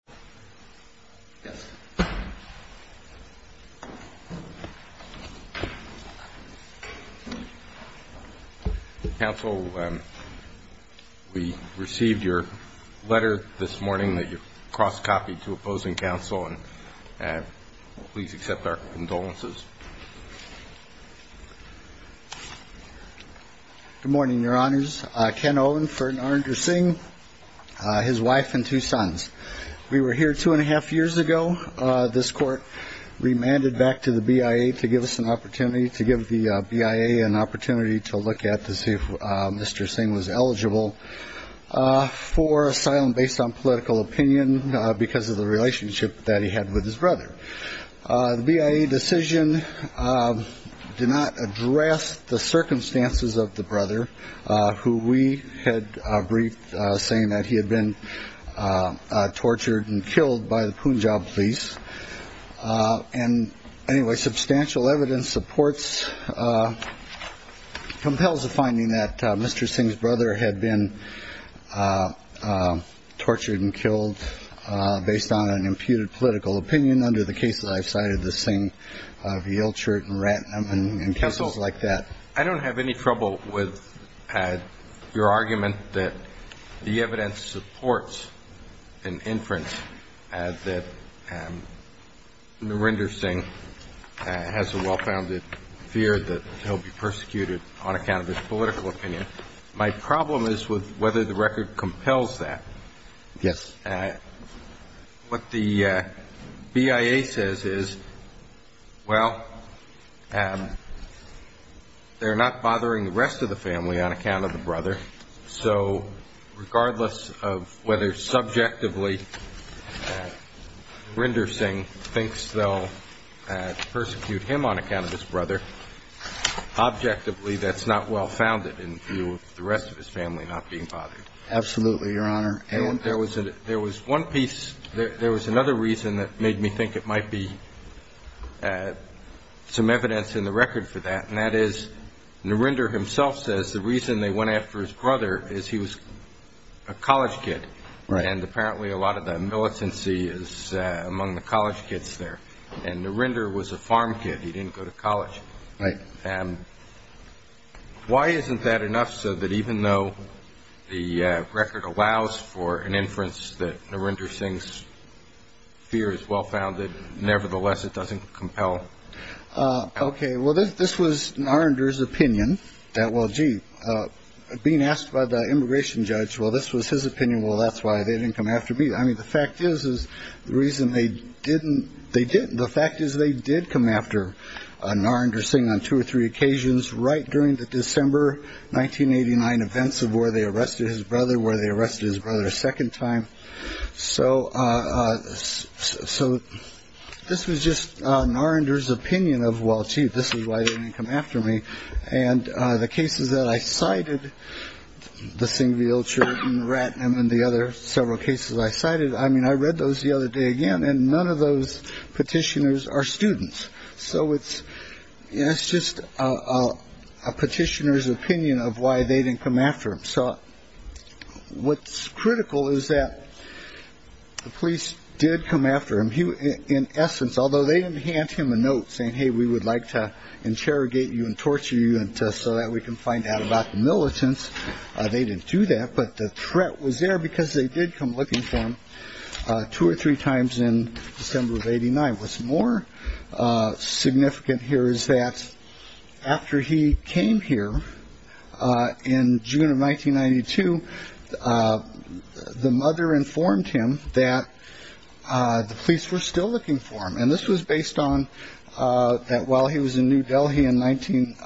Good morning, your honors. Ken Owen, Fernander Singh, his wife and two sons. We were here two and a half years ago. This court remanded back to the BIA to give us an opportunity to give the BIA an opportunity to look at to see if Mr. Singh was eligible for asylum based on political opinion because of the relationship that he had with his brother. The BIA decision did not address the circumstances of the brother who we had briefed saying that he had been tortured and killed by the Punjab police. And anyway, substantial evidence supports, compels the finding that Mr. Singh's brother had been tortured and killed based on an imputed political opinion under the case that I've cited, the Singh v. Ilchert and Ratnam and cases like that. I don't have any trouble with your argument that the evidence supports an inference that Narinder Singh has a well-founded fear that he'll be persecuted on account of his political opinion. My problem is with whether the record compels that. Yes. What the BIA says is, well, they're not bothering the rest of the family on account of the brother. So regardless of whether subjectively Narinder Singh thinks they'll persecute him on account of his brother, objectively, that's not well-founded in view of the rest of his family not being bothered. Absolutely, Your Honor. There was another reason that made me think it might be some evidence in the record for that, and that is Narinder himself says the reason they went after his brother is he was a college kid. And apparently a lot of the militancy is among the college kids there. And Narinder was a farm kid. He didn't go to college. Right. And why isn't that enough so that even though the record allows for an inference that Narinder Singh's fear is well-founded, nevertheless, it doesn't compel. OK. Well, this was Narinder's opinion that. Well, gee, being asked by the immigration judge. Well, this was his opinion. Well, that's why they didn't come after me. I mean, the fact is, is the reason they didn't. The fact is, they did come after Narinder Singh on two or three occasions right during the December 1989 events of where they arrested his brother, where they arrested his brother a second time. So. So this was just Narinder's opinion of. Well, gee, this is why they didn't come after me. And the cases that I cited, the single children, Ratnam and the other several cases I cited, I mean, I read those the other day again. And none of those petitioners are students. So it's just a petitioner's opinion of why they didn't come after him. So what's critical is that the police did come after him. Although they didn't hand him a note saying, hey, we would like to interrogate you and torture you so that we can find out about the militants. They didn't do that. But the threat was there because they did come looking for him two or three times in December of 89. What's more significant here is that after he came here in June of 1992, the mother informed him that the police were still looking for him. And this was based on that while he was in New Delhi in 19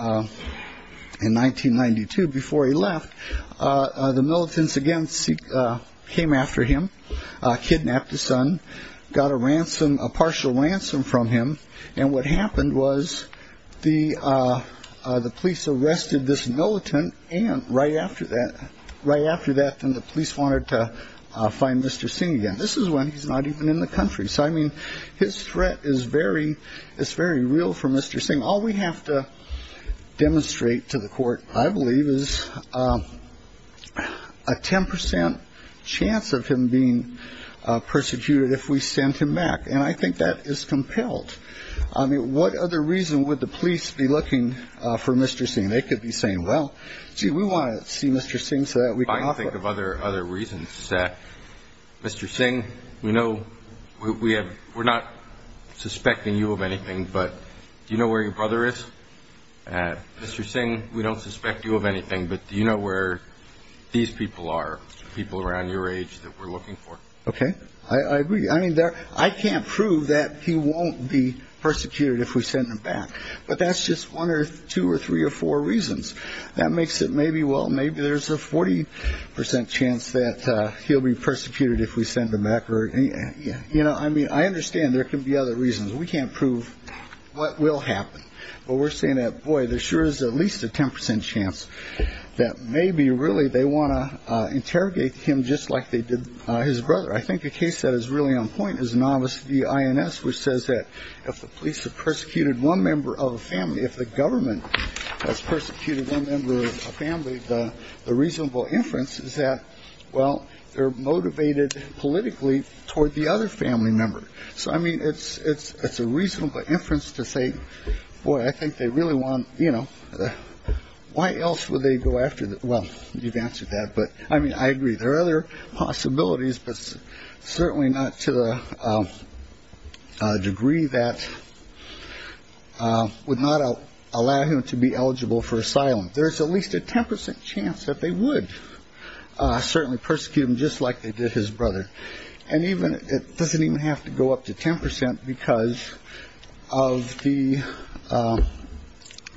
in 1992, before he left, the militants again came after him, kidnapped his son, got a ransom, a partial ransom from him. And what happened was the the police arrested this militant. And right after that, right after that, then the police wanted to find Mr. Singh again. And this is when he's not even in the country. So, I mean, his threat is very it's very real for Mr. Singh. All we have to demonstrate to the court, I believe, is a 10 percent chance of him being persecuted if we send him back. And I think that is compelled. I mean, what other reason would the police be looking for Mr. Singh? They could be saying, well, gee, we want to see Mr. Singh. I think of other other reasons. Mr. Singh, we know we have we're not suspecting you of anything, but you know where your brother is. Mr. Singh, we don't suspect you of anything, but you know where these people are, people around your age that we're looking for. OK, I agree. I mean, I can't prove that he won't be persecuted if we send him back. But that's just one or two or three or four reasons. That makes it maybe. Well, maybe there's a 40 percent chance that he'll be persecuted if we send him back. You know, I mean, I understand there can be other reasons. We can't prove what will happen. But we're saying that, boy, there sure is at least a 10 percent chance that maybe really they want to interrogate him just like they did his brother. I think the case that is really on point is novice the INS, which says that if the police have persecuted one member of a family, if the government has persecuted one member of a family, the reasonable inference is that, well, they're motivated politically toward the other family member. So, I mean, it's it's it's a reasonable inference to say, boy, I think they really want, you know, why else would they go after? Well, you've answered that. But I mean, I agree there are other possibilities, but certainly not to the degree that would not allow him to be eligible for asylum. There is at least a 10 percent chance that they would certainly persecute him just like they did his brother. And even it doesn't even have to go up to 10 percent because of the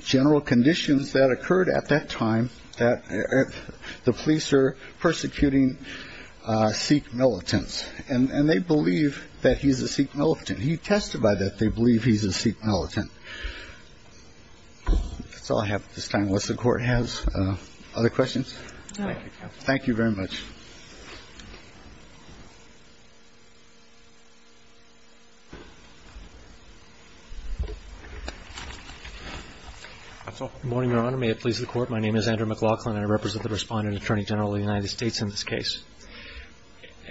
general conditions that occurred at that time, that the police are persecuting Sikh militants and they believe that he's a Sikh militant. He testified that they believe he's a Sikh militant. So I have this time. And unless the Court has other questions. Thank you very much. Morning, Your Honor. May it please the Court. My name is Andrew McLaughlin. I represent the Respondent Attorney General of the United States in this case.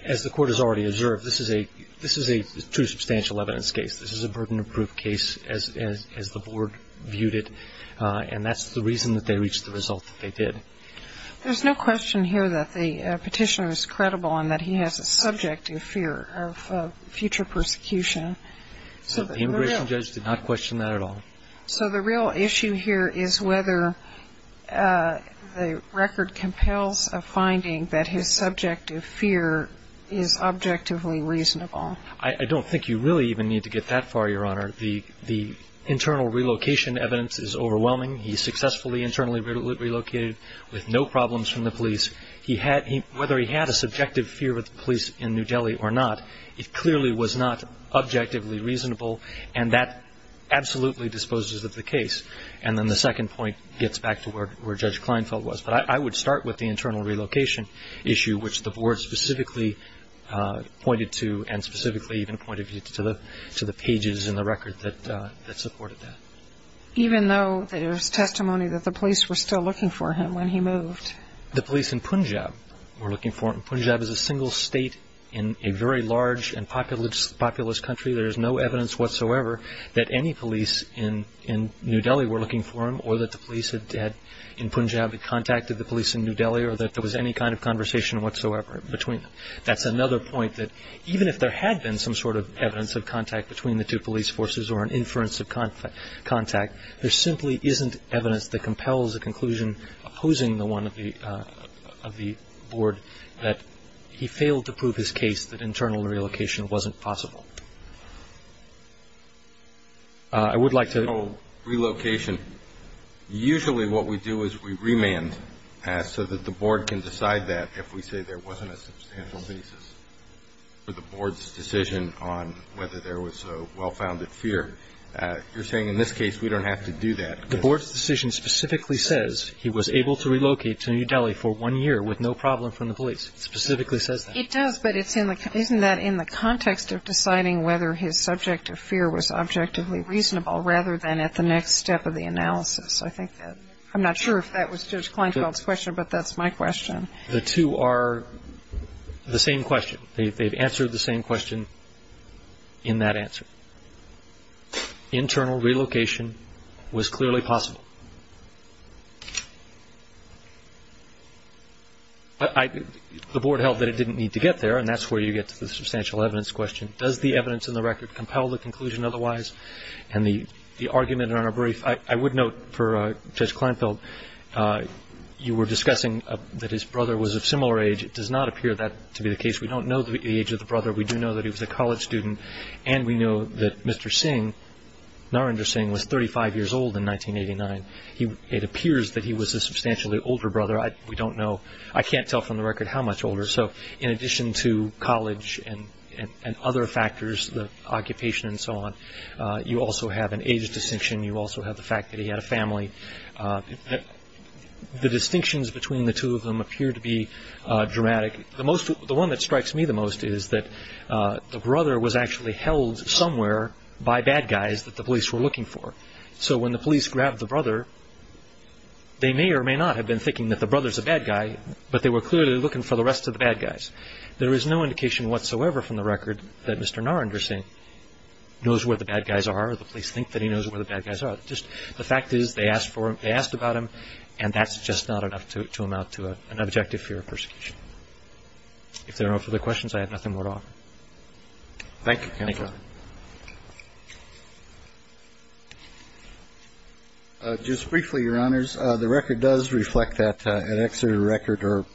As the Court has already observed, this is a this is a true substantial evidence case. This is a burden of proof case as the Board viewed it. And that's the reason that they reached the result that they did. There's no question here that the petitioner is credible and that he has a subjective fear of future persecution. So the immigration judge did not question that at all. So the real issue here is whether the record compels a finding that his subjective fear is objectively reasonable. I don't think you really even need to get that far, Your Honor. The internal relocation evidence is overwhelming. He successfully internally relocated with no problems from the police. Whether he had a subjective fear of the police in New Delhi or not, it clearly was not objectively reasonable. And that absolutely disposes of the case. And then the second point gets back to where Judge Kleinfeld was. But I would start with the internal relocation issue, which the Board specifically pointed to, and specifically even pointed to the pages in the record that supported that. Even though there's testimony that the police were still looking for him when he moved? The police in Punjab were looking for him. Punjab is a single state in a very large and populous country. There is no evidence whatsoever that any police in New Delhi were looking for him or that the police had in Punjab contacted the police in New Delhi or that there was any kind of conversation whatsoever between them. That's another point that even if there had been some sort of evidence of contact between the two police forces or an inference of contact, there simply isn't evidence that compels a conclusion opposing the one of the Board that he failed to prove his case that internal relocation wasn't possible. I would like to... So relocation, usually what we do is we remand so that the Board can decide that if we say there wasn't a substantial basis for the Board's decision on whether there was a well-founded fear. You're saying in this case we don't have to do that. The Board's decision specifically says he was able to relocate to New Delhi for one year with no problem from the police. It specifically says that. It does, but isn't that in the context of deciding whether his subject of fear was objectively reasonable rather than at the next step of the analysis? I'm not sure if that was Judge Kleinfeld's question, but that's my question. The two are the same question. They've answered the same question in that answer. Internal relocation was clearly possible. The Board held that it didn't need to get there, and that's where you get to the substantial evidence question. Does the evidence in the record compel the conclusion otherwise? And the argument on our brief, I would note for Judge Kleinfeld, you were discussing that his brother was of similar age. It does not appear that to be the case. We don't know the age of the brother. We do know that he was a college student, and we know that Mr. Singh, Narendra Singh, was 35 years old in 1989. It appears that he was a substantially older brother. We don't know. I can't tell from the record how much older. So in addition to college and other factors, the occupation and so on, you also have an age distinction. You also have the fact that he had a family. The distinctions between the two of them appear to be dramatic. The one that strikes me the most is that the brother was actually held somewhere by bad guys that the police were looking for. So when the police grabbed the brother, they may or may not have been thinking that the brother's a bad guy, but they were clearly looking for the rest of the bad guys. There is no indication whatsoever from the record that Mr. Narendra Singh knows where the bad guys are or the police think that he knows where the bad guys are. The fact is they asked about him, and that's just not enough to amount to an objective for your persecution. If there are no further questions, I have nothing more to offer. Thank you. Just briefly, Your Honors, the record does reflect that at Exeter Record or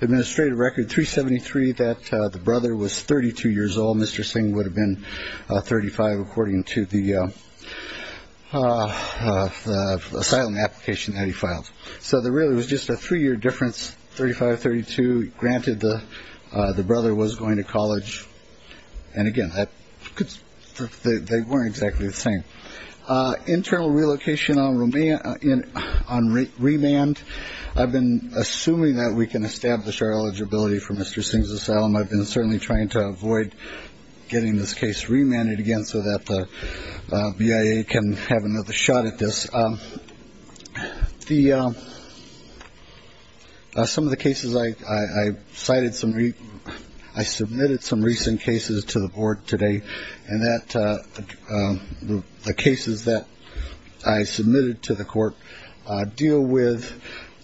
Administrative Record 373 that the brother was 32 years old. Mr. Singh would have been 35 according to the asylum application that he filed. So there really was just a three-year difference, 35, 32. Granted, the brother was going to college. And again, they weren't exactly the same. Internal relocation on remand. I've been assuming that we can establish our eligibility for Mr. Singh's asylum. I've been certainly trying to avoid getting this case remanded again so that the BIA can have another shot at this. Some of the cases I cited, I submitted some recent cases to the board today, and the cases that I submitted to the court deal with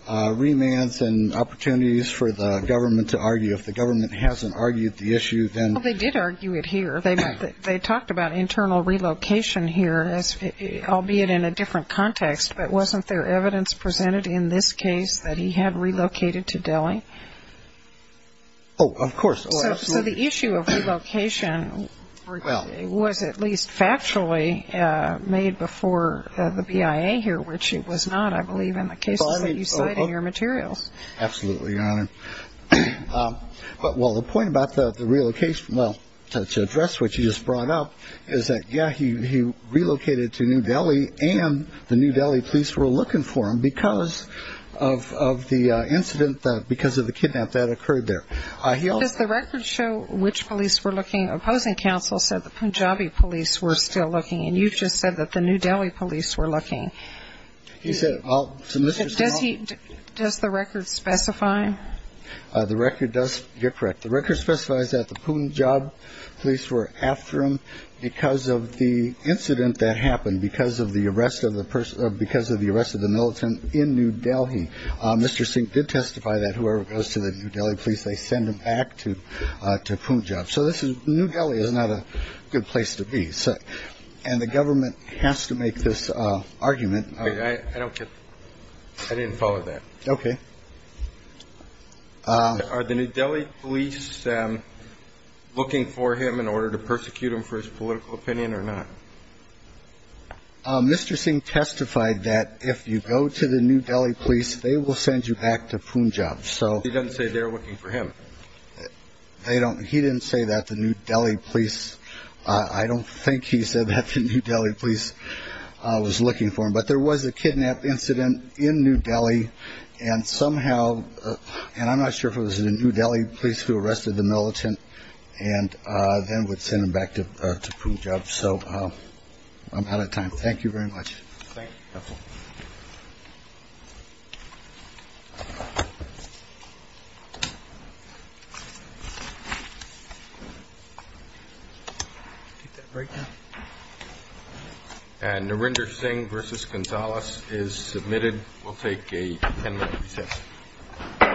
remands and opportunities for the government to argue. If the government hasn't argued the issue, then they did argue it here. They talked about internal relocation here, albeit in a different context, but wasn't there evidence presented in this case that he had relocated to Delhi? Oh, of course. So the issue of relocation was at least factually made before the BIA here, which it was not, I believe, in the cases that you cite in your materials. Absolutely, Your Honor. Well, the point about the relocation, well, to address what you just brought up, is that, yeah, he relocated to New Delhi and the New Delhi police were looking for him because of the incident, because of the kidnap that occurred there. Does the record show which police were looking? Opposing counsel said the Punjabi police were still looking, and you just said that the New Delhi police were looking. Does the record specify? The record does get correct. The record specifies that the Punjab police were after him because of the incident that happened, because of the arrest of the militant in New Delhi. Mr. Singh did testify that whoever goes to the New Delhi police, they send them back to Punjab. So New Delhi is not a good place to be. And the government has to make this argument. I don't get it. I didn't follow that. Okay. Are the New Delhi police looking for him in order to persecute him for his political opinion or not? Mr. Singh testified that if you go to the New Delhi police, they will send you back to Punjab. So he doesn't say they're looking for him. He didn't say that the New Delhi police. I don't think he said that the New Delhi police was looking for him. But there was a kidnap incident in New Delhi, and somehow, and I'm not sure if it was the New Delhi police who arrested the militant and then would send him back to Punjab. So I'm out of time. Thank you very much. Thank you. And Narendra Singh versus Gonzales is submitted. We'll take a 10-minute recess. Thank you. Thank you. Thank you. Thank you. Thank you.